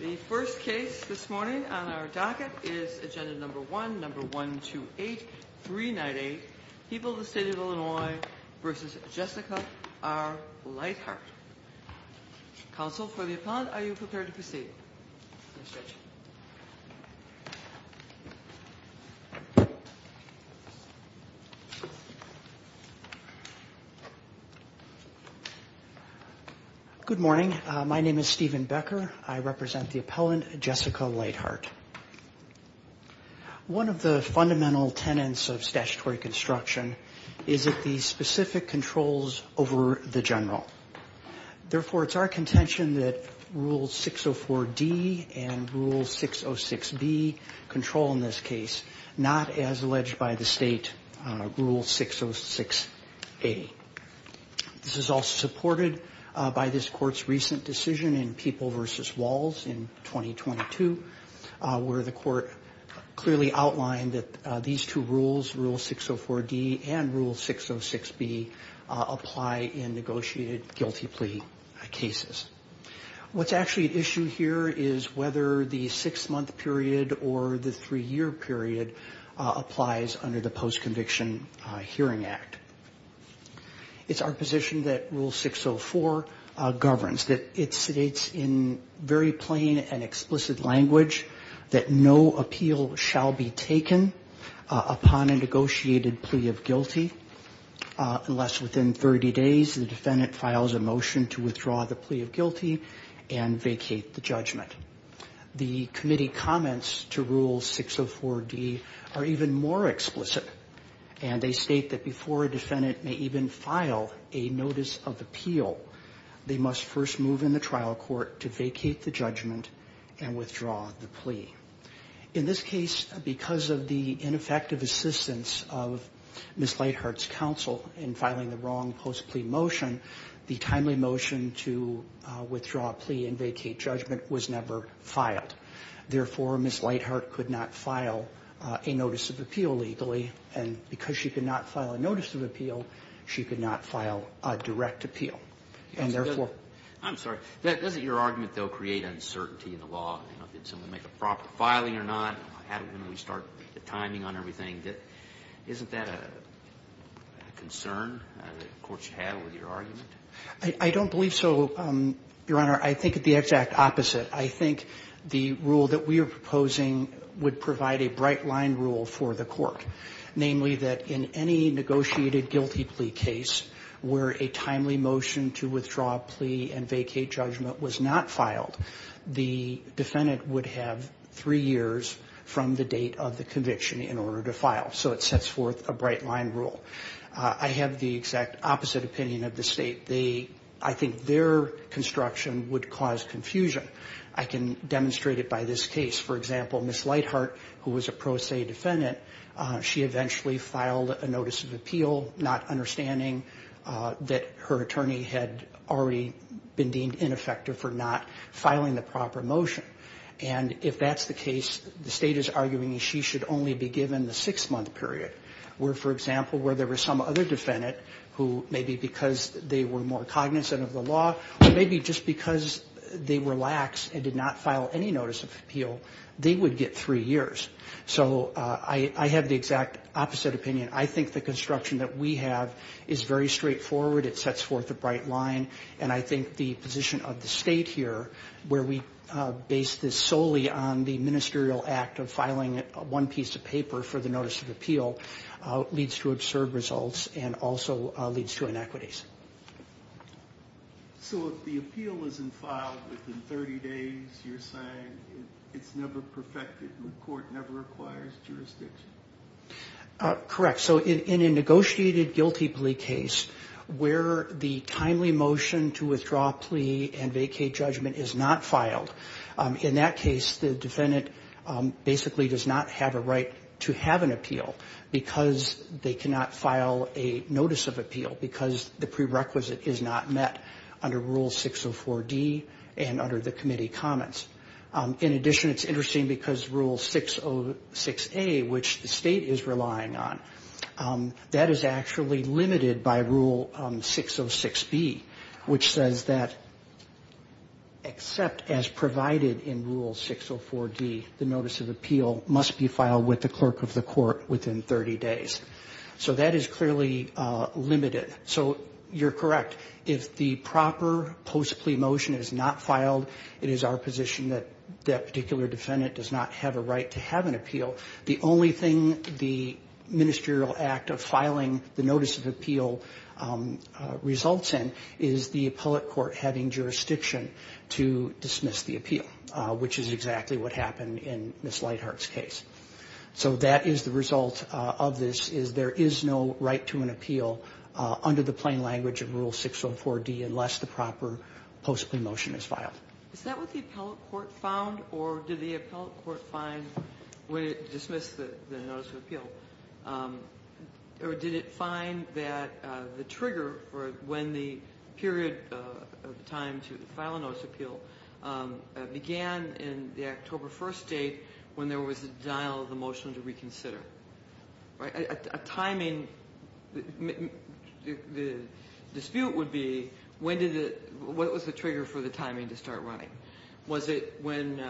The first case this morning on our docket is Agenda No. 1, No. 128, 398, People of the State of Illinois v. Jessica R. Lighthart. Counsel for the appellant, are you prepared to proceed? Good morning. My name is Stephen Becker. I represent the appellant, Jessica Lighthart. One of the fundamental tenets of statutory construction is that the specific controls over the general. Therefore, it's our contention that Rule 604-D and Rule 606-B control in this case, not as alleged by the state, Rule 606-A. This is all supported by this court's recent decision in People v. Walls in 2022, where the court clearly outlined that these two rules, Rule 604-D and Rule 606-B, apply in negotiated guilty plea cases. What's actually at issue here is whether the six-month period or the three-year period applies under the Post-Conviction Hearing Act. It's our position that Rule 604 governs, that it states in very plain and explicit language that no appeal shall be taken upon a negotiated plea of guilty, unless within 30 days the defendant files a motion to withdraw the plea of guilty and vacate the judgment. The committee comments to Rule 604-D are even more explicit, and they state that before a defendant may even file a notice of appeal, they must first move in the trial court to vacate the judgment and withdraw the plea. In this case, because of the ineffective assistance of Ms. Lighthart's counsel in filing the wrong post-plea motion, the timely motion to withdraw a plea and vacate judgment was never filed. Therefore, Ms. Lighthart could not file a notice of appeal legally, and because she could not file a notice of appeal, she could not file a direct appeal. And therefore — I'm sorry. Doesn't your argument, though, create uncertainty in the law? You know, did someone make a proper filing or not? How do we start the timing on everything? Isn't that a concern on the court you have with your argument? I don't believe so, Your Honor. I think the exact opposite. I think the rule that we are proposing would provide a bright-line rule for the court, namely that in any negotiated guilty plea case where a timely motion to withdraw a plea and vacate judgment was not filed, the defendant would have three years from the date of the conviction in order to file. So it sets forth a bright-line rule. I have the exact opposite opinion of the State. I think their construction would cause confusion. I can demonstrate it by this case. For example, Ms. Lighthart, who was a pro se defendant, she eventually filed a notice of appeal, not understanding that her attorney had already been deemed ineffective for not filing the proper motion. And if that's the case, the State is arguing she should only be given the six-month period where, for example, where there were some other defendant who maybe because they were more cognizant of the law or maybe just because they were lax and did not file any notice of appeal, they would get three years. So I have the exact opposite opinion. I think the construction that we have is very straightforward. It sets forth a bright line. And I think the position of the State here, where we base this solely on the ministerial act of filing one piece of paper for the notice of appeal, leads to absurd results and also leads to inequities. So if the appeal isn't filed within 30 days, you're saying it's never perfected and the court never acquires jurisdiction? Correct. So in a negotiated guilty plea case where the timely motion to withdraw plea and vacate judgment is not filed, in that case the defendant basically does not have a right to have an appeal because they cannot file a notice of appeal because the prerequisite is not met under Rule 604D and under the committee comments. In addition, it's interesting because Rule 606A, which the State is relying on, that is actually limited by Rule 606B, which says that except as provided in Rule 604D, the notice of appeal must be filed with the clerk of the court within 30 days. So that is clearly limited. So you're correct. If the proper post plea motion is not filed, it is our position that that particular defendant does not have a right to have an appeal. The only thing the ministerial act of filing the notice of appeal results in is the appellate court having jurisdiction to dismiss the appeal, which is exactly what happened in Ms. Lightheart's case. So that is the result of this is there is no right to an appeal under the plain language of Rule 604D unless the proper post plea motion is filed. Is that what the appellate court found or did the appellate court find when it dismissed the notice of appeal? Or did it find that the trigger for when the period of time to file a notice of appeal began in the October 1st date when there was a denial of the motion to reconsider? A timing, the dispute would be when did it, what was the trigger for the timing to start running? Was it when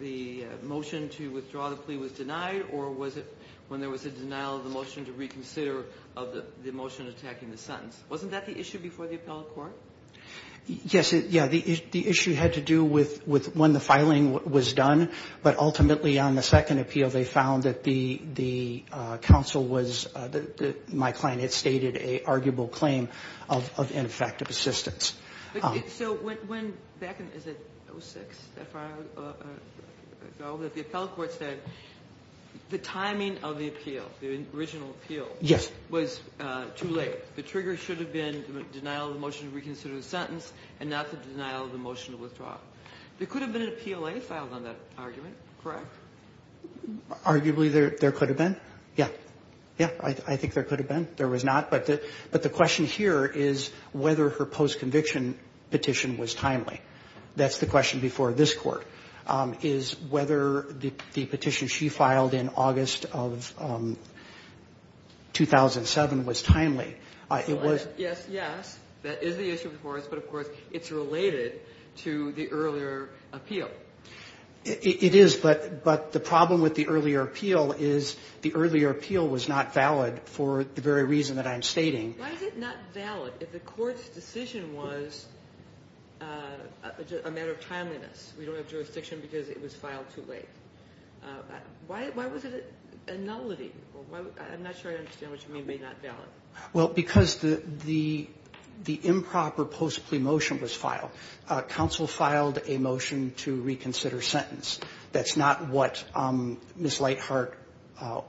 the motion to withdraw the plea was denied or was it when there was a denial of the motion to reconsider of the motion attacking the sentence? Wasn't that the issue before the appellate court? Yes. Yeah. The issue had to do with when the filing was done, but ultimately on the second appeal they found that the counsel was, my client had stated, an arguable claim of ineffective assistance. So when, back in, is it 06, that far ago, that the appellate court said the timing of the appeal, the original appeal, was too late. The trigger should have been denial of the motion to reconsider the sentence and not the denial of the motion to withdraw. There could have been an appeal filed on that argument, correct? Arguably there could have been. Yeah. Yeah. I think there could have been. There was not. But the question here is whether her post-conviction petition was timely. That's the question before this Court, is whether the petition she filed in August of 2007 was timely. Yes, yes. That is the issue before us, but, of course, it's related to the earlier appeal. It is, but the problem with the earlier appeal is the earlier appeal was not valid for the very reason that I'm stating. Why is it not valid if the court's decision was a matter of timeliness? We don't have jurisdiction because it was filed too late. Why was it a nullity? I'm not sure I understand what you mean by not valid. Well, because the improper post-plea motion was filed. Counsel filed a motion to reconsider sentence. That's not what Ms. Lightheart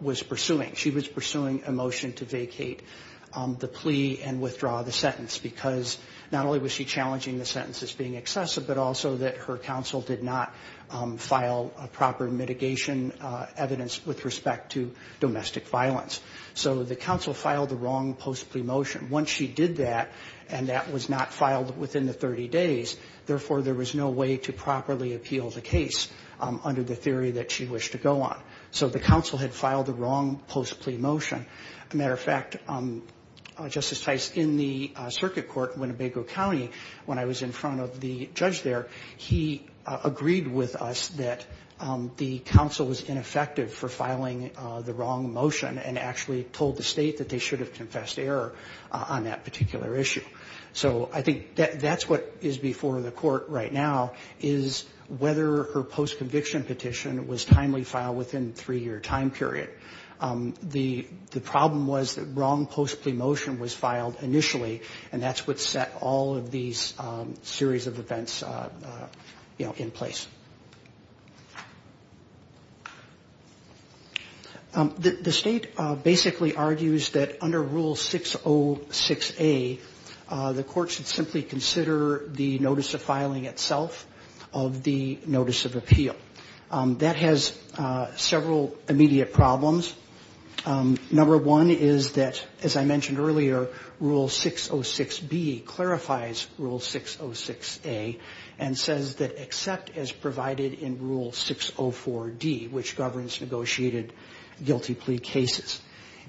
was pursuing. She was pursuing a motion to vacate the plea and withdraw the sentence because not only was she challenging the sentence as being excessive, but also that her counsel did not file proper mitigation evidence with respect to domestic violence. So the counsel filed the wrong post-plea motion. Once she did that, and that was not filed within the 30 days, therefore there was no way to properly appeal the case under the theory that she wished to go on. So the counsel had filed the wrong post-plea motion. As a matter of fact, Justice Tice, in the circuit court, Winnebago County, when I was in front of the judge there, he agreed with us that the counsel was ineffective for filing the wrong motion and actually told the State that they should have confessed error on that particular issue. So I think that's what is before the Court right now, is whether her post-conviction petition was timely filed within a three-year time period. The problem was that wrong post-plea motion was filed initially, and that's what set all of these series of events in place. The State basically argues that under Rule 606A, the Court should simply consider the notice of filing itself of the notice of appeal. That has several immediate problems. Number one is that, as I mentioned earlier, Rule 606B clarifies Rule 606A and says that except as provided in Rule 604D, which governs negotiated guilty plea cases.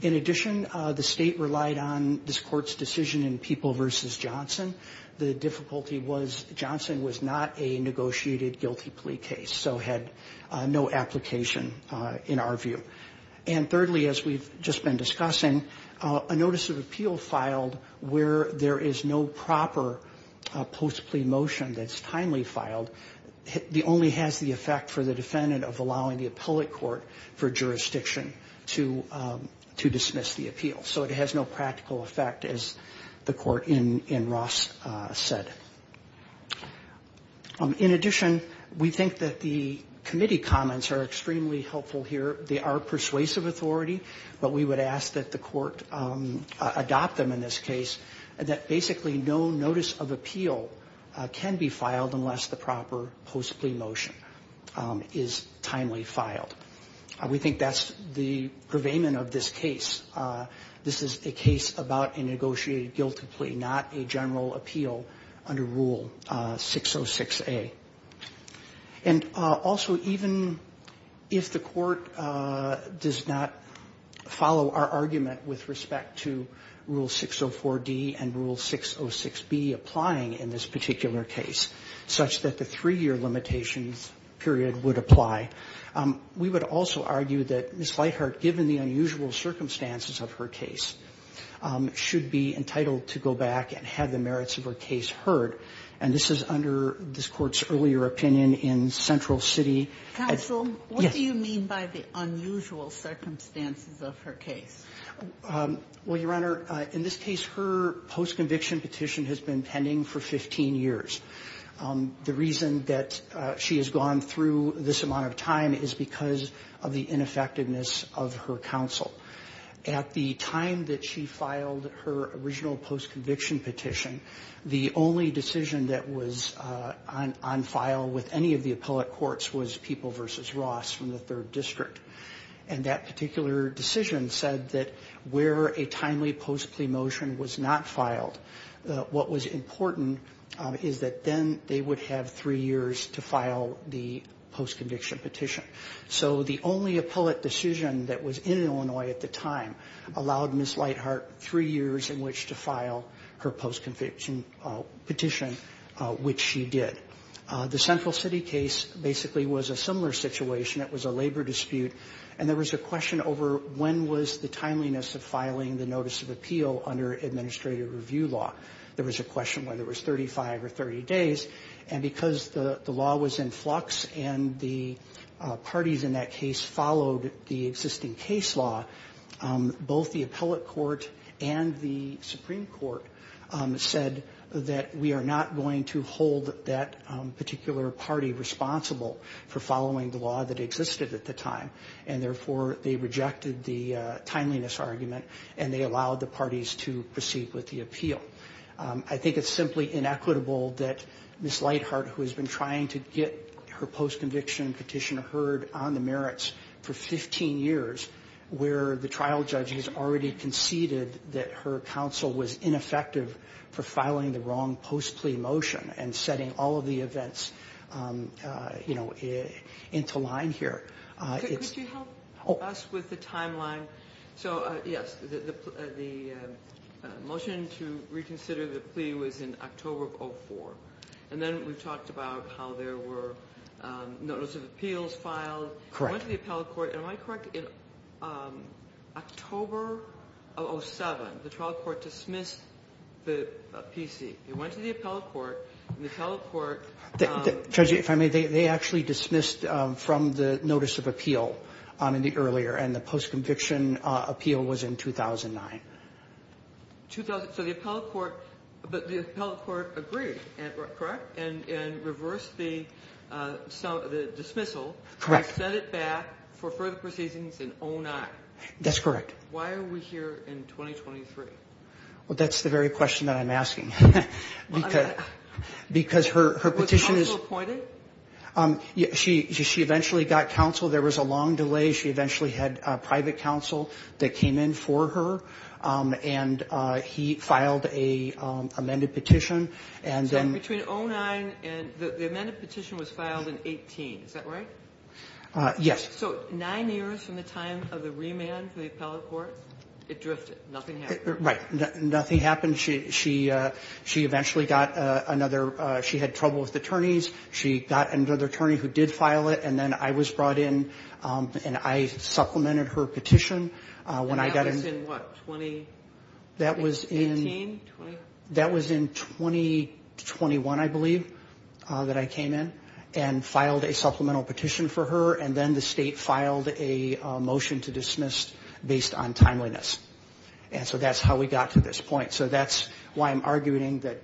In addition, the State relied on this Court's decision in People v. Johnson. The difficulty was Johnson was not a negotiated guilty plea case, so had no application in our view. And thirdly, as we've just been discussing, a notice of appeal filed where there is no proper post-plea motion that's timely filed only has the effect for the defendant of allowing the appellate court for jurisdiction to dismiss the appeal. So it has no practical effect, as the Court in Ross said. In addition, we think that the committee comments are extremely helpful here. They are persuasive authority, but we would ask that the Court adopt them in this case, that basically no notice of appeal can be filed unless the proper post-plea motion is timely filed. We think that's the purveyment of this case. This is a case about a negotiated guilty plea, not a general appeal under Rule 606A. And also, even if the Court does not follow our argument with respect to Rule 604D and Rule 606B applying in this particular case, such that the three-year limitations period would apply, we would also argue that Ms. Lightheart, given the unusual earlier opinion in Central City as Yes. Counsel, what do you mean by the unusual circumstances of her case? Well, Your Honor, in this case, her post-conviction petition has been pending for 15 years. The reason that she has gone through this amount of time is because of the ineffectiveness of her counsel. At the time that she filed her original post-conviction petition, the only decision that was on file with any of the appellate courts was People v. Ross from the 3rd District. And that particular decision said that where a timely post-plea motion was not filed, what was important is that then they would have three years to file the post-conviction petition. So the only appellate decision that was in Illinois at the time allowed Ms. Lightheart three years in which to file her post-conviction petition, which she did. The Central City case basically was a similar situation. It was a labor dispute. And there was a question over when was the timeliness of filing the notice of appeal under administrative review law. There was a question whether it was 35 or 30 days. And because the law was in flux and the parties in that case followed the existing case law, both the appellate court and the Supreme Court said that we are not going to hold that particular party responsible for following the law that existed at the time. And, therefore, they rejected the timeliness argument, and they allowed the parties to proceed with the appeal. I think it's simply inequitable that Ms. Lightheart, who has been trying to get her post-conviction petition heard on the merits for 15 years, where the trial judge has already conceded that her counsel was ineffective for filing the wrong post-plea motion and setting all of the events, you know, into line here. Could you help us with the timeline? So, yes, the motion to reconsider the plea was in October of 2004. And then we talked about how there were notice of appeals filed. Correct. It went to the appellate court. Am I correct? In October of 2007, the trial court dismissed the PC. It went to the appellate court, and the appellate court ---- Judge, if I may, they actually dismissed from the notice of appeal in the earlier and the post-conviction appeal was in 2009. So the appellate court agreed, correct, and reversed the dismissal. Correct. And sent it back for further proceedings in 2009. That's correct. Why are we here in 2023? Well, that's the very question that I'm asking because her petition is ---- Was counsel appointed? She eventually got counsel. There was a long delay. She eventually had private counsel that came in for her, and he filed an amended petition. And then ---- So between 2009 and the amended petition was filed in 18. Is that right? Yes. So nine years from the time of the remand for the appellate court, it drifted. Nothing happened. Right. Nothing happened. She eventually got another ---- she had trouble with attorneys. She got another attorney who did file it, and then I was brought in. And I supplemented her petition when I got in ---- And that was in what, 2018? That was in 2021, I believe, that I came in and filed a supplemental petition for her. And then the state filed a motion to dismiss based on timeliness. And so that's how we got to this point. So that's why I'm arguing that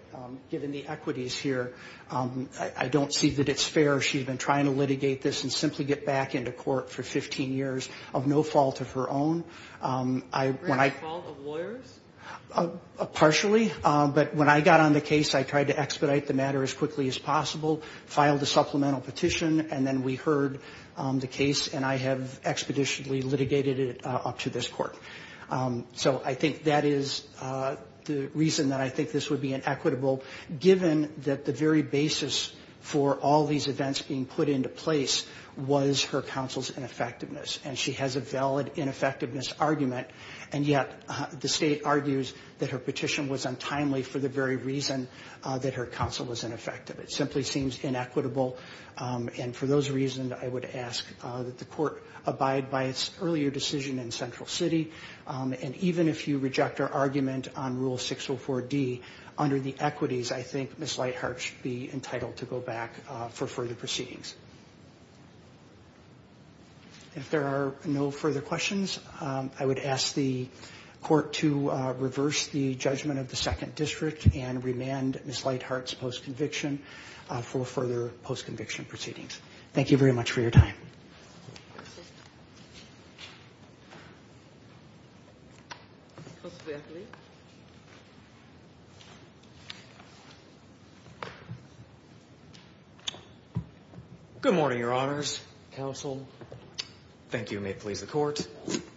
given the equities here, I don't see that it's fair. She had been trying to litigate this and simply get back into court for 15 years of no fault of her own. Was it the fault of lawyers? Partially. But when I got on the case, I tried to expedite the matter as quickly as possible, filed a supplemental petition, and then we heard the case. And I have expeditionally litigated it up to this court. So I think that is the reason that I think this would be inequitable, given that the very basis for all these events being put into place was her counsel's ineffectiveness. And she has a valid ineffectiveness argument, and yet the state argues that her petition was untimely for the very reason that her counsel was ineffective. It simply seems inequitable. And for those reasons, I would ask that the court abide by its earlier decision in Central City. And even if you reject our argument on Rule 604D, under the equities, I think Ms. Lightheart should be entitled to go back for further proceedings. If there are no further questions, I would ask the court to reverse the judgment of the Second District and remand Ms. Lightheart's post-conviction for further post-conviction proceedings. Thank you very much for your time. Mr. Berkley. Good morning, Your Honors, Counsel. Thank you, and may it please the Court.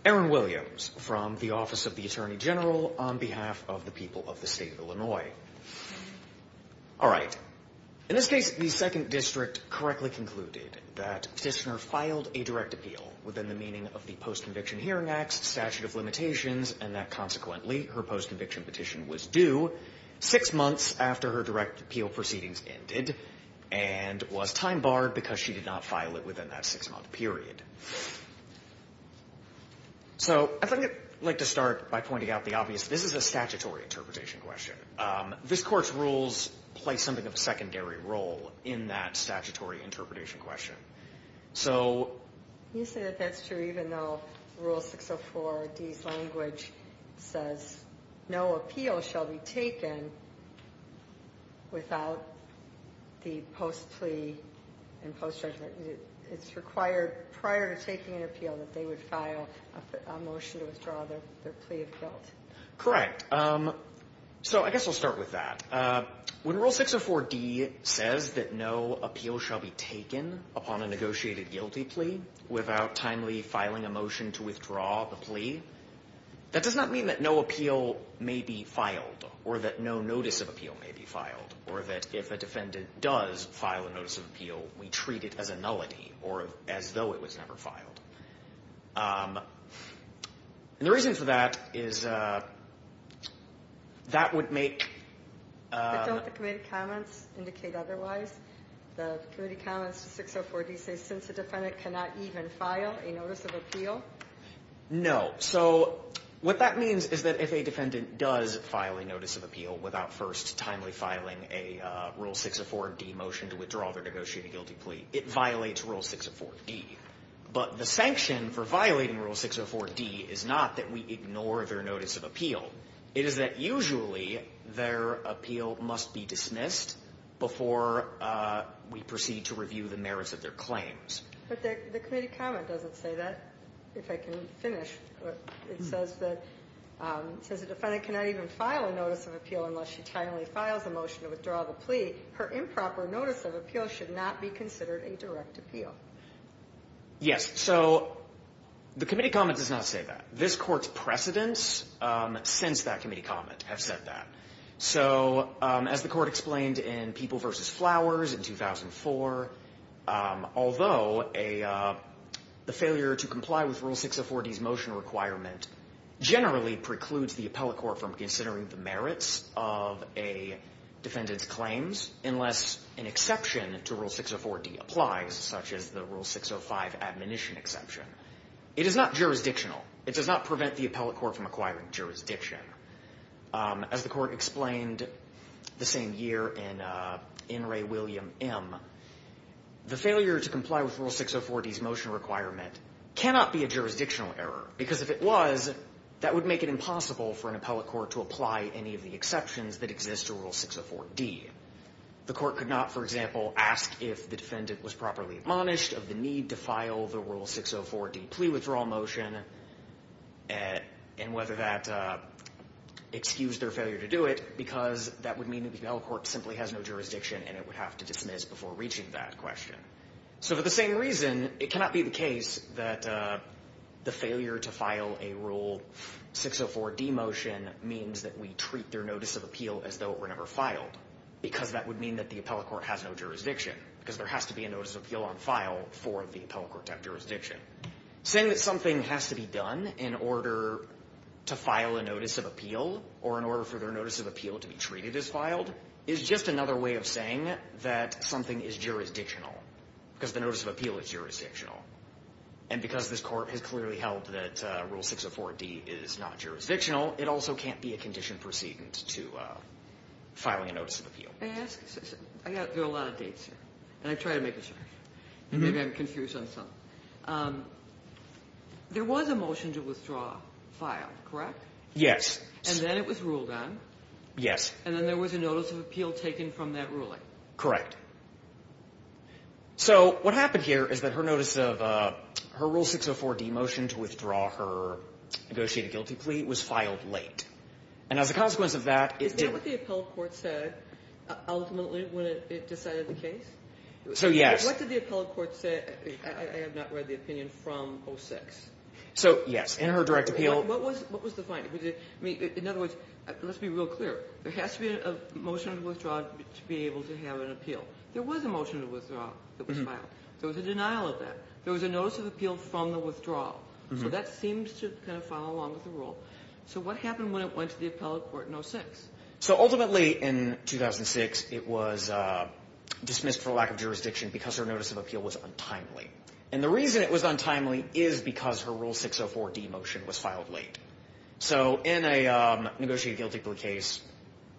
Aaron Williams from the Office of the Attorney General on behalf of the people of the state of Illinois. All right. In this case, the Second District correctly concluded that Petitioner filed a direct appeal within the meaning of the Post-Conviction Hearing Acts, Statute of Limitations, and that, consequently, her post-conviction petition was due six months after her direct appeal proceedings ended and was time-barred because she did not file it within that six-month period. So I'd like to start by pointing out the obvious. This is a statutory interpretation question. This Court's rules play something of a secondary role in that statutory interpretation question. You say that that's true even though Rule 604D's language says, no appeal shall be taken without the post-plea and post-judgment. It's required prior to taking an appeal that they would file a motion to withdraw their plea of guilt. Correct. So I guess I'll start with that. When Rule 604D says that no appeal shall be taken upon a negotiated guilty plea without timely filing a motion to withdraw the plea, that does not mean that no appeal may be filed or that no notice of appeal may be filed or that if a defendant does file a notice of appeal, we treat it as a nullity or as though it was never filed. And the reason for that is that would make... But don't the committee comments indicate otherwise? The committee comments to 604D say since a defendant cannot even file a notice of appeal? No. So what that means is that if a defendant does file a notice of appeal without first timely filing a Rule 604D motion to withdraw their negotiated guilty plea, it violates Rule 604D. But the sanction for violating Rule 604D is not that we ignore their notice of appeal. It is that usually their appeal must be dismissed before we proceed to review the merits of their claims. But the committee comment doesn't say that, if I can finish. It says that since a defendant cannot even file a notice of appeal unless she timely files a motion to withdraw the plea, her improper notice of appeal should not be considered a direct appeal. Yes. So the committee comment does not say that. This Court's precedents since that committee comment have said that. So as the Court explained in People v. Flowers in 2004, although the failure to comply with Rule 604D's motion requirement generally precludes the appellate court from considering the merits of a defendant's claims unless an exception to Rule 604D applies, such as the Rule 605 admonition exception. It is not jurisdictional. It does not prevent the appellate court from acquiring jurisdiction. As the Court explained the same year in N. Ray William M., the failure to comply with Rule 604D's motion requirement cannot be a jurisdictional error, because if it was, that would make it impossible for an appellate court to apply any of the exceptions that exist to Rule 604D. The court could not, for example, ask if the defendant was properly admonished of the need to file the Rule 604D plea withdrawal motion and whether that excused their failure to do it, because that would mean that the appellate court simply has no jurisdiction and it would have to dismiss before reaching that question. So for the same reason, it cannot be the case that the failure to file a Rule 604D motion means that we treat their notice of appeal as though it were never filed, because that would mean that the appellate court has no jurisdiction, because there has to be a notice of appeal on file for the appellate court to have jurisdiction. Saying that something has to be done in order to file a notice of appeal or in order for their notice of appeal to be treated as filed is just another way of saying that something is jurisdictional, because the notice of appeal is jurisdictional. And because this Court has clearly held that Rule 604D is not jurisdictional, it also can't be a condition precedent to filing a notice of appeal. Ginsburg. May I ask a question? There are a lot of dates here, and I've tried to make it short. Maybe I'm confused on some. There was a motion to withdraw file, correct? Waxman. Yes. Ginsburg. And then it was ruled on. Waxman. Yes. Ginsburg. And then there was a notice of appeal taken from that ruling. Waxman. Correct. So what happened here is that her notice of her Rule 604D motion to withdraw her negotiated guilty plea was filed late. And as a consequence of that, it did. Is that what the appellate court said ultimately when it decided the case? So, yes. What did the appellate court say? I have not read the opinion from 06. So, yes. In her direct appeal. What was the finding? In other words, let's be real clear. There has to be a motion to withdraw to be able to have an appeal. There was a motion to withdraw that was filed. There was a denial of that. There was a notice of appeal from the withdrawal. So that seems to kind of follow along with the rule. So what happened when it went to the appellate court in 06? So ultimately in 2006, it was dismissed for lack of jurisdiction because her notice of appeal was untimely. And the reason it was untimely is because her Rule 604D motion was filed late. So in a negotiated guilty plea case,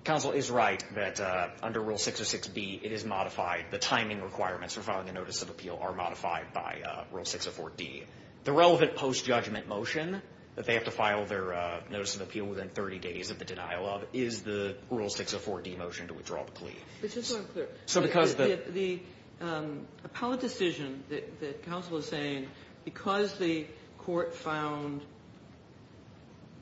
counsel is right that under Rule 606B, it is modified. The timing requirements for filing a notice of appeal are modified by Rule 604D. The relevant post-judgment motion that they have to file their notice of appeal within 30 days of the denial of is the Rule 604D motion to withdraw the plea. It's just unclear. So because the... The appellate decision that counsel is saying, because the court found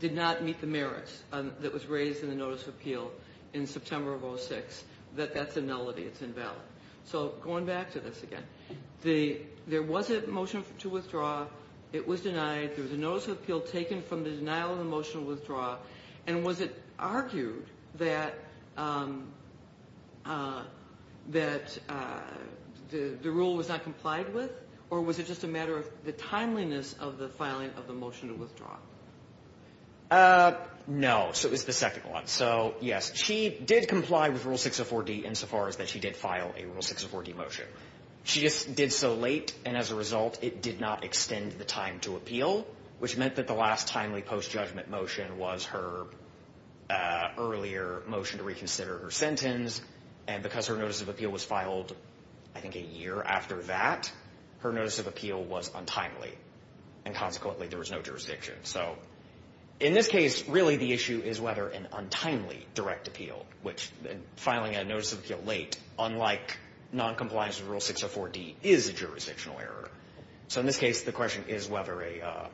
did not meet the merits that was raised in the notice of appeal in September of 06, that that's a nullity, it's invalid. So going back to this again, there was a motion to withdraw. It was denied. There was a notice of appeal taken from the denial of the motion to withdraw. And was it argued that the rule was not complied with? Or was it just a matter of the timeliness of the filing of the motion to withdraw? No. So it was the second one. So, yes, she did comply with Rule 604D insofar as that she did file a Rule 604D motion. She just did so late, and as a result, it did not extend the time to appeal, which meant that the last timely post-judgment motion was her earlier motion to reconsider her sentence. And because her notice of appeal was filed, I think, a year after that, her notice of appeal was untimely. And consequently, there was no jurisdiction. So in this case, really the issue is whether an untimely direct appeal, which filing a notice of appeal late, unlike noncompliance with Rule 604D, is a jurisdictional error. So in this case, the question is whether a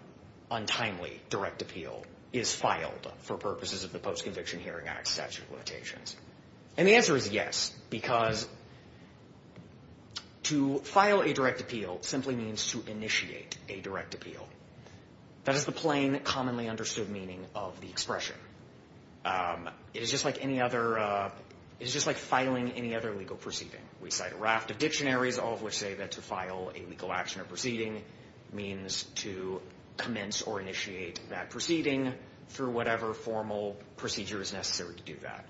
untimely direct appeal is filed for purposes of the Post-Conviction Hearing Act statute of limitations. And the answer is yes, because to file a direct appeal simply means to initiate a direct appeal. That is the plain, commonly understood meaning of the expression. It is just like filing any other legal proceeding. We cite a raft of dictionaries, all of which say that to file a legal action or proceeding means to commence or initiate that proceeding through whatever formal procedure is necessary to do that.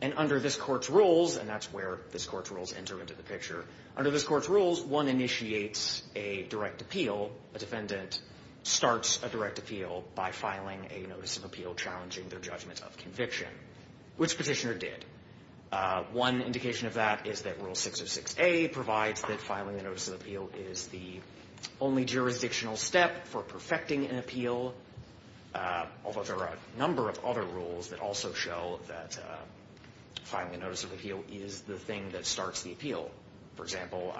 And under this Court's rules, and that's where this Court's rules enter into the picture, under this Court's rules, one initiates a direct appeal, a defendant starts a direct appeal by filing a notice of appeal challenging their judgment of conviction, which Petitioner did. One indication of that is that Rule 606A provides that filing a notice of appeal is the only jurisdictional step for perfecting an appeal, although there are a number of other rules that also show that filing a notice of appeal is the thing that starts the appeal. For example,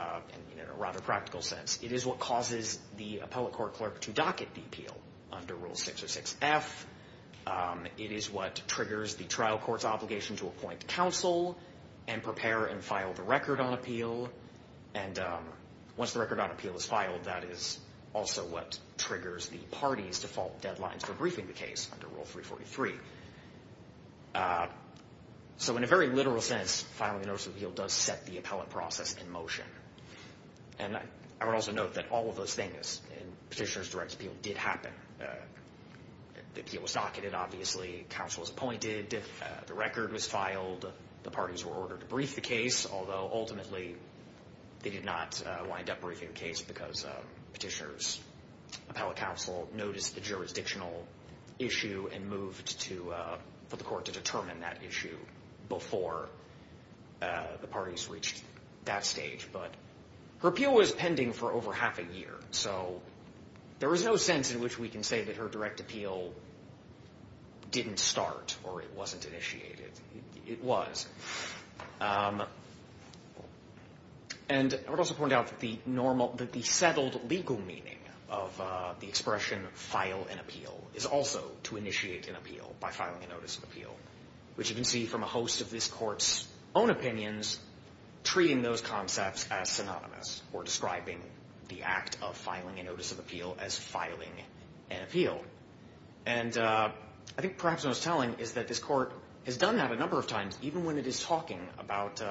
in a rather practical sense, it is what causes the appellate court clerk to docket the appeal under Rule 606F. It is what triggers the trial court's obligation to appoint counsel and prepare and file the record on appeal. And once the record on appeal is filed, that is also what triggers the party's default deadlines for briefing the case under Rule 343. So in a very literal sense, filing a notice of appeal does set the appellate process in motion. And I would also note that all of those things in Petitioner's direct appeal did happen. The appeal was docketed, obviously. Counsel was appointed. The record was filed. The parties were ordered to brief the case, although ultimately they did not wind up briefing the case because Petitioner's appellate counsel noticed the jurisdictional issue and moved for the court to determine that issue before the parties reached that stage. But her appeal was pending for over half a year. So there was no sense in which we can say that her direct appeal didn't start or it wasn't initiated. It was. And I would also point out that the settled legal meaning of the expression file an appeal is also to initiate an appeal by filing a notice of appeal, which you can see from a host of this court's own opinions treating those concepts as synonymous or describing the act of filing a notice of appeal as filing an appeal. And I think perhaps what I was telling is that this court has done that a lot when it is talking about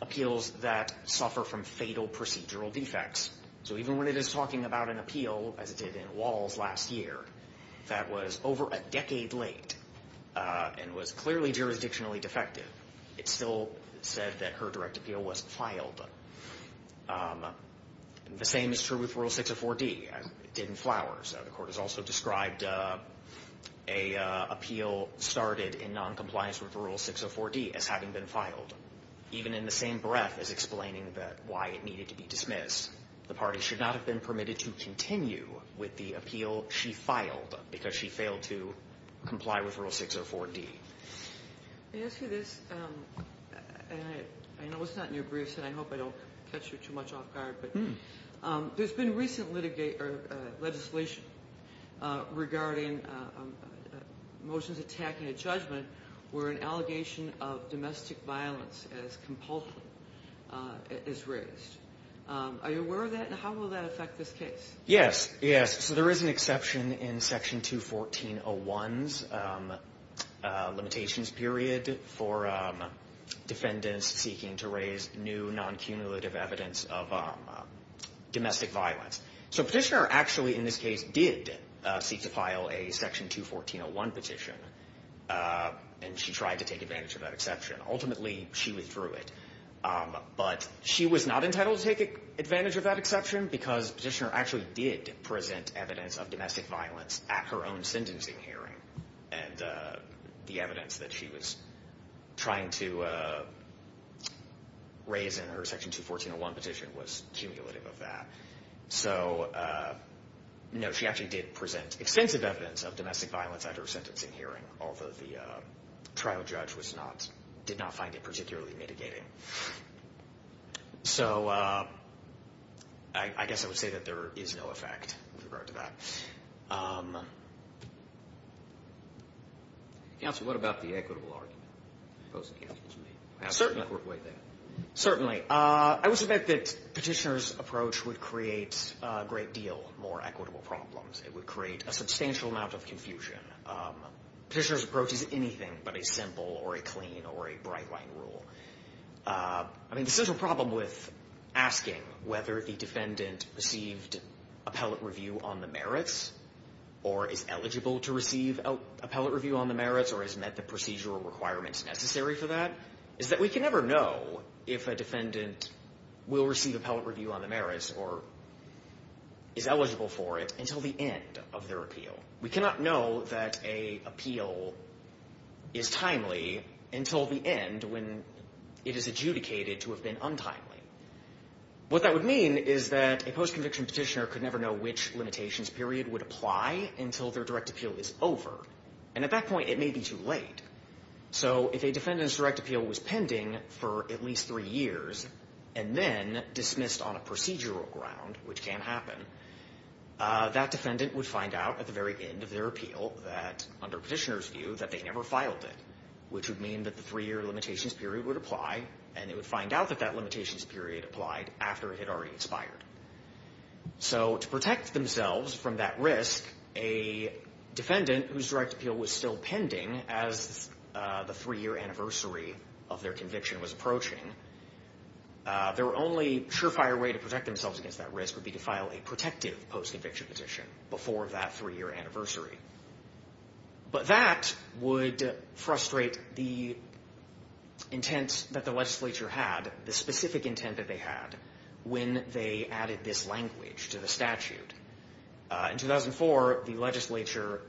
appeals that suffer from fatal procedural defects. So even when it is talking about an appeal, as it did in Walls last year, that was over a decade late and was clearly jurisdictionally defective, it still said that her direct appeal was filed. The same is true with Rule 604D, as it did in Flowers. The court has also described an appeal started in noncompliance with Rule 604D as having been filed, even in the same breath as explaining why it needed to be dismissed. The party should not have been permitted to continue with the appeal she filed because she failed to comply with Rule 604D. Can I ask you this? And I know it's not in your briefs, and I hope I don't catch you too much off There's been recent legislation regarding motions attacking a judgment where an allegation of domestic violence as compulsive is raised. Are you aware of that, and how will that affect this case? Yes. So there is an exception in Section 214.01's limitations period for defendants seeking to raise new non-cumulative evidence of domestic violence. So Petitioner actually, in this case, did seek to file a Section 214.01 petition, and she tried to take advantage of that exception. Ultimately, she withdrew it. But she was not entitled to take advantage of that exception because Petitioner actually did present evidence of domestic violence at her own sentencing hearing, and the evidence that she was trying to raise in her Section 214.01 petition was cumulative of that. So, no, she actually did present extensive evidence of domestic violence at her sentencing hearing, although the trial judge did not find it particularly mitigating. So I guess I would say that there is no effect with regard to that. Counsel, what about the equitable argument? Certainly, I would submit that Petitioner's approach would create a great deal more equitable problems. It would create a substantial amount of confusion. Petitioner's approach is anything but a simple or a clean or a bright-line rule. I mean, the central problem with asking whether the defendant received appellate review on the merits or is eligible to receive appellate review on the merits or has met the procedural requirements necessary for that is that we can never know if a defendant will receive appellate review on the merits or is eligible for it until the end of their appeal. We cannot know that a appeal is timely until the end when it is adjudicated to have been untimely. What that would mean is that a post-conviction petitioner could never know which limitations period would apply until their direct appeal is over. And at that point, it may be too late. So if a defendant's direct appeal was pending for at least three years and then dismissed on a procedural ground, which can happen, that defendant would find out at the very end of their appeal that, under petitioner's view, that they never filed it, which would mean that the three-year limitations period would apply and they would find out that that limitations period applied after it had already expired. So to protect themselves from that risk, a defendant whose direct appeal was still pending as the three-year anniversary of their conviction was approaching, their only surefire way to protect themselves against that risk would be to file a protective post-conviction petition before that three-year anniversary. But that would frustrate the intent that the legislature had, the specific intent that they had, when they added this language to the statute. In 2004, the legislature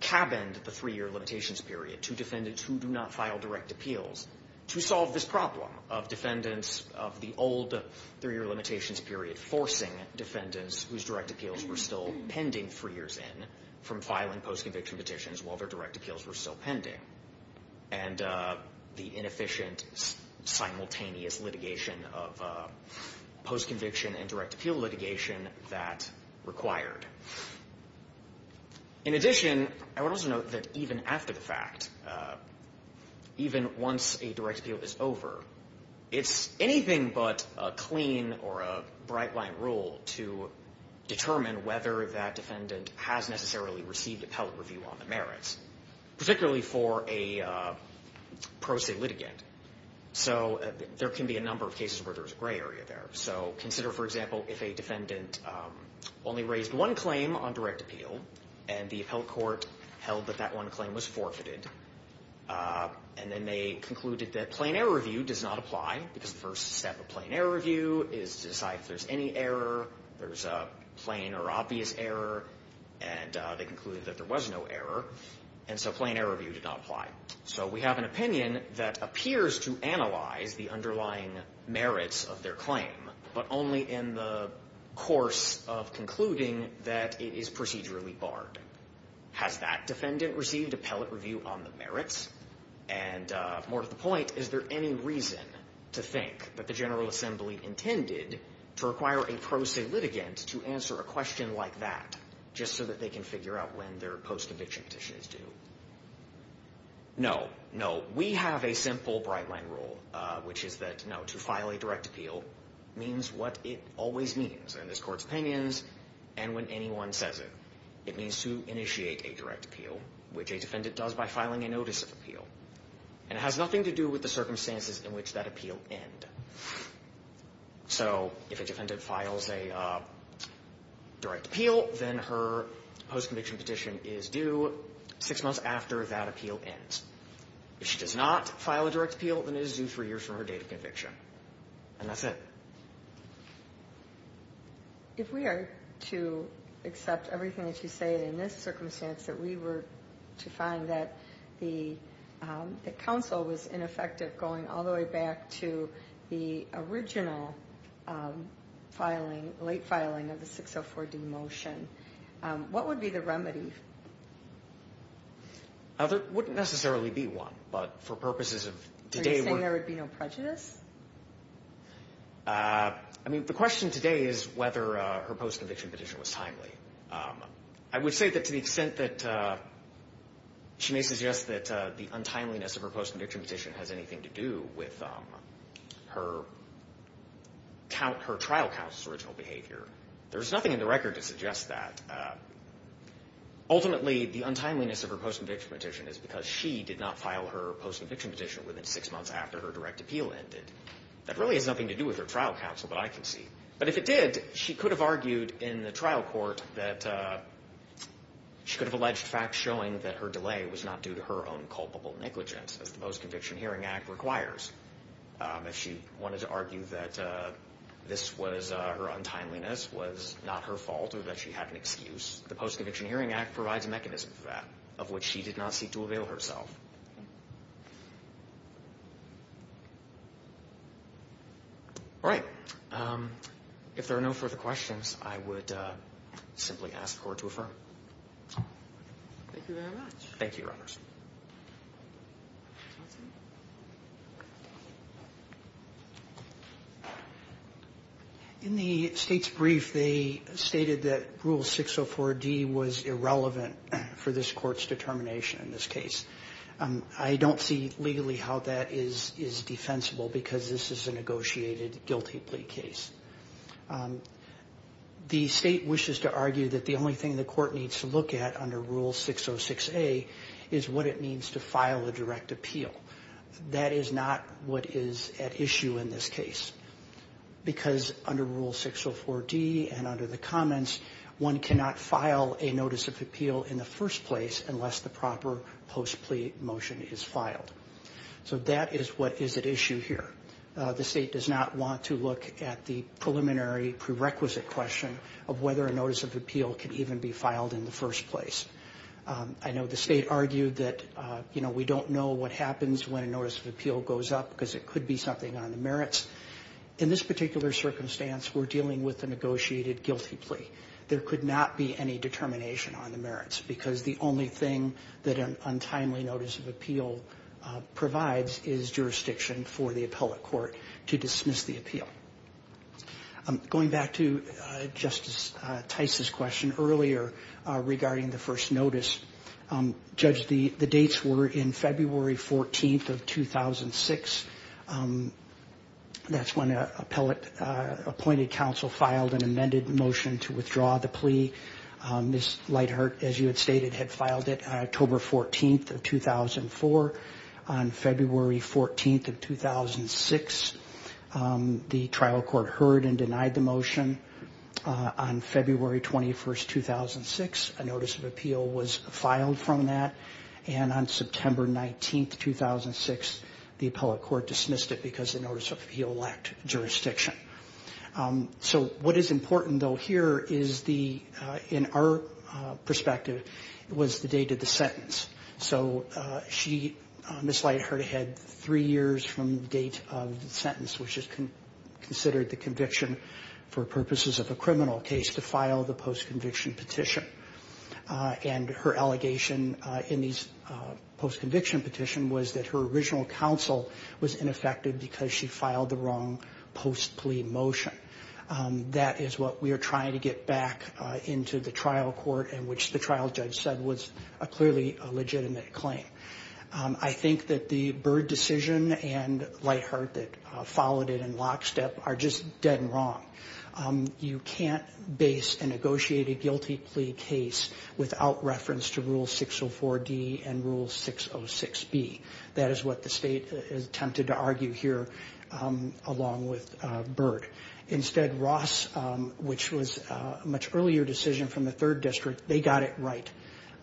cabined the three-year limitations period to defendants who do not file direct appeals to solve this problem of defendants of the old three-year limitations period, forcing defendants whose direct appeals were still pending three years in from filing post-conviction petitions while their direct appeals were still pending. And the inefficient simultaneous litigation of post-conviction and direct appeal litigation that required. In addition, I would also note that even after the fact, even once a direct appeal period is over, it's anything but a clean or a bright-blind rule to determine whether that defendant has necessarily received appellate review on the merits, particularly for a pro se litigant. So there can be a number of cases where there's a gray area there. So consider, for example, if a defendant only raised one claim on direct appeal and the appellate court held that that one claim was forfeited, and then they concluded that plain error review does not apply because the first step of plain error review is to decide if there's any error, there's a plain or obvious error, and they concluded that there was no error. And so plain error review did not apply. So we have an opinion that appears to analyze the underlying merits of their claim, but only in the course of concluding that it is procedurally barred. Has that defendant received appellate review on the merits? And more to the point, is there any reason to think that the General Assembly intended to require a pro se litigant to answer a question like that just so that they can figure out when their post eviction petition is due? No, no. We have a simple bright-blind rule, which is that, no, to file a direct appeal means what it always means in this court's opinions and when anyone says it. It means to initiate a direct appeal, which a defendant does by filing a notice of appeal. And it has nothing to do with the circumstances in which that appeal ends. So if a defendant files a direct appeal, then her post conviction petition is due six months after that appeal ends. If she does not file a direct appeal, then it is due three years from her date of conviction. And that's it. If we are to accept everything that you say in this circumstance, that we were to find that the counsel was ineffective going all the way back to the original late filing of the 604D motion, what would be the remedy? There wouldn't necessarily be one, but for purposes of today's work... Are you saying there would be no prejudice? I mean, the question today is whether her post conviction petition was timely. I would say that to the extent that she may suggest that the untimeliness of her post conviction petition has anything to do with her trial counsel's original behavior. There's nothing in the record to suggest that. Ultimately, the untimeliness of her post conviction petition is because she did not file her post conviction petition within six months after her direct appeal ended. That really has nothing to do with her trial counsel, but I can see. But if it did, she could have argued in the trial court that she could have alleged facts showing that her delay was not due to her own culpable negligence, as the Post Conviction Hearing Act requires. If she wanted to argue that her untimeliness was not her fault or that she had an excuse, the Post Conviction Hearing Act provides a mechanism for that, of which she did not seek to avail herself. All right. If there are no further questions, I would simply ask the Court to affirm. Thank you very much. Thank you, Your Honors. Counsel? In the State's brief, they stated that Rule 604D was irrelevant for this Court's determination in this case. I don't see legally how that is defensible because this is a negotiated guilty plea case. The State wishes to argue that the only thing the Court needs to look at under Rule 606A is what it means to file a direct appeal. That is not what is at issue in this case because under Rule 604D and under the comments, one cannot file a notice of appeal in the first place unless the proper post plea motion is filed. So that is what is at issue here. The State does not want to look at the preliminary prerequisite question of whether a notice of appeal can even be filed in the first place. I know the State argued that we don't know what happens when a notice of appeal goes up because it could be something on the merits. In this particular circumstance, we're dealing with a negotiated guilty plea. There could not be any determination on the merits because the only thing that an untimely notice of appeal provides is jurisdiction for the appellate court to dismiss the appeal. Going back to Justice Tice's question earlier regarding the first notice, Judge, the dates were in February 14th of 2006. That's when appellate appointed counsel filed an amended motion to withdraw the plea. Ms. Lightheart, as you had stated, had filed it on October 14th of 2004. On February 14th of 2006, the trial court heard and denied the motion. On February 21st, 2006, a notice of appeal was filed from that. And on September 19th, 2006, the appellate court dismissed it because the notice of appeal lacked jurisdiction. So what is important, though, here is the, in our perspective, was the date of the sentence. So she, Ms. Lightheart, had three years from the date of the sentence, which is considered the conviction for purposes of a criminal case, to file the post-conviction petition. And her allegation in these post-conviction petition was that her original counsel was ineffective because she filed the wrong post-plea motion. That is what we are trying to get back into the trial court and which the trial judge said was clearly a legitimate claim. I think that the Byrd decision and Lightheart that followed it in lockstep are just dead and wrong. You can't base a negotiated guilty plea case without reference to Rule 604D and Rule 606B. That is what the state attempted to argue here along with Byrd. Instead, Ross, which was a much earlier decision from the third district, they got it right.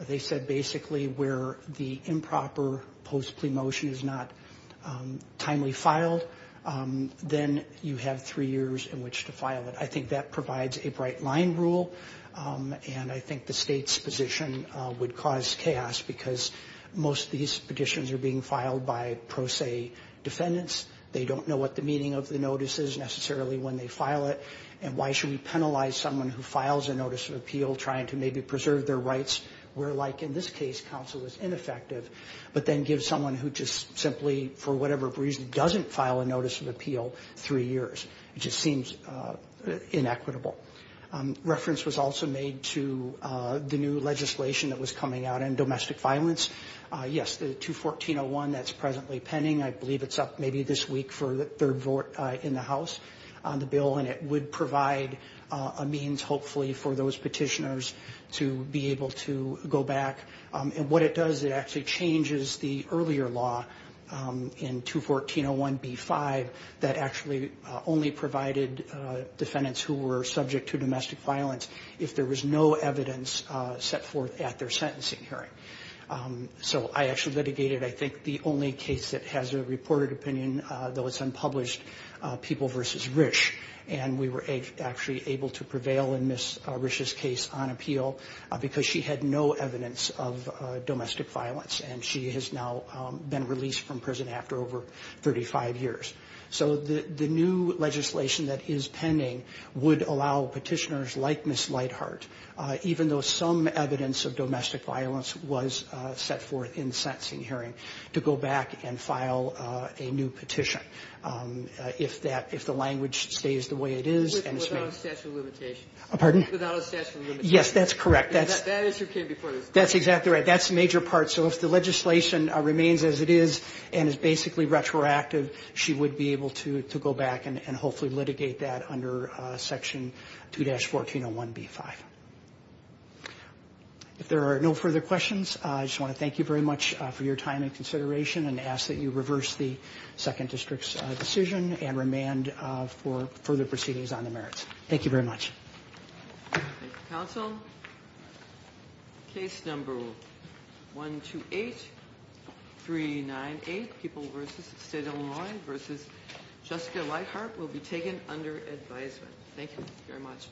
They said basically where the improper post-plea motion is not timely filed, then you have three years in which to file it. I think that provides a bright line rule, and I think the state's position would cause chaos because most of these petitions are being filed by pro se defendants. They don't know what the meaning of the notice is necessarily when they file it, and why should we penalize someone who files a notice of appeal trying to maybe preserve their rights, where like in this case counsel was ineffective, but then gives someone who just simply for whatever reason doesn't file a notice of appeal three years. It just seems inequitable. Reference was also made to the new legislation that was coming out on domestic violence. Yes, the 214.01, that's presently pending. I believe it's up maybe this week for the third vote in the House on the bill, and it would provide a means hopefully for those petitioners to be able to go back. What it does, it actually changes the earlier law in 214.01B5 that actually only provided defendants who were subject to domestic violence if there was no evidence set forth at their sentencing hearing. So I actually litigated I think the only case that has a reported opinion, though it's unpublished, People v. Risch, and we were actually able to prevail in Ms. Risch's case on appeal because she had no evidence of domestic violence, and she has now been released from prison after over 35 years. So the new legislation that is pending would allow petitioners like Ms. Lightheart, even though some evidence of domestic violence was set forth in the sentencing hearing, to go back and file a new petition if that the language stays the way it is. Without a statute of limitations. Pardon? Without a statute of limitations. Yes, that's correct. That answer came before this. That's exactly right. That's a major part. So if the legislation remains as it is and is basically retroactive, she would be able to go back and hopefully litigate that under Section 2-1401B5. If there are no further questions, I just want to thank you very much for your time and consideration and ask that you reverse the Second District's decision and remand for further proceedings on the merits. Thank you very much. Thank you, counsel. Case number 128398, People v. State of Illinois v. Jessica Lightheart, will be taken under advisement. Thank you very much.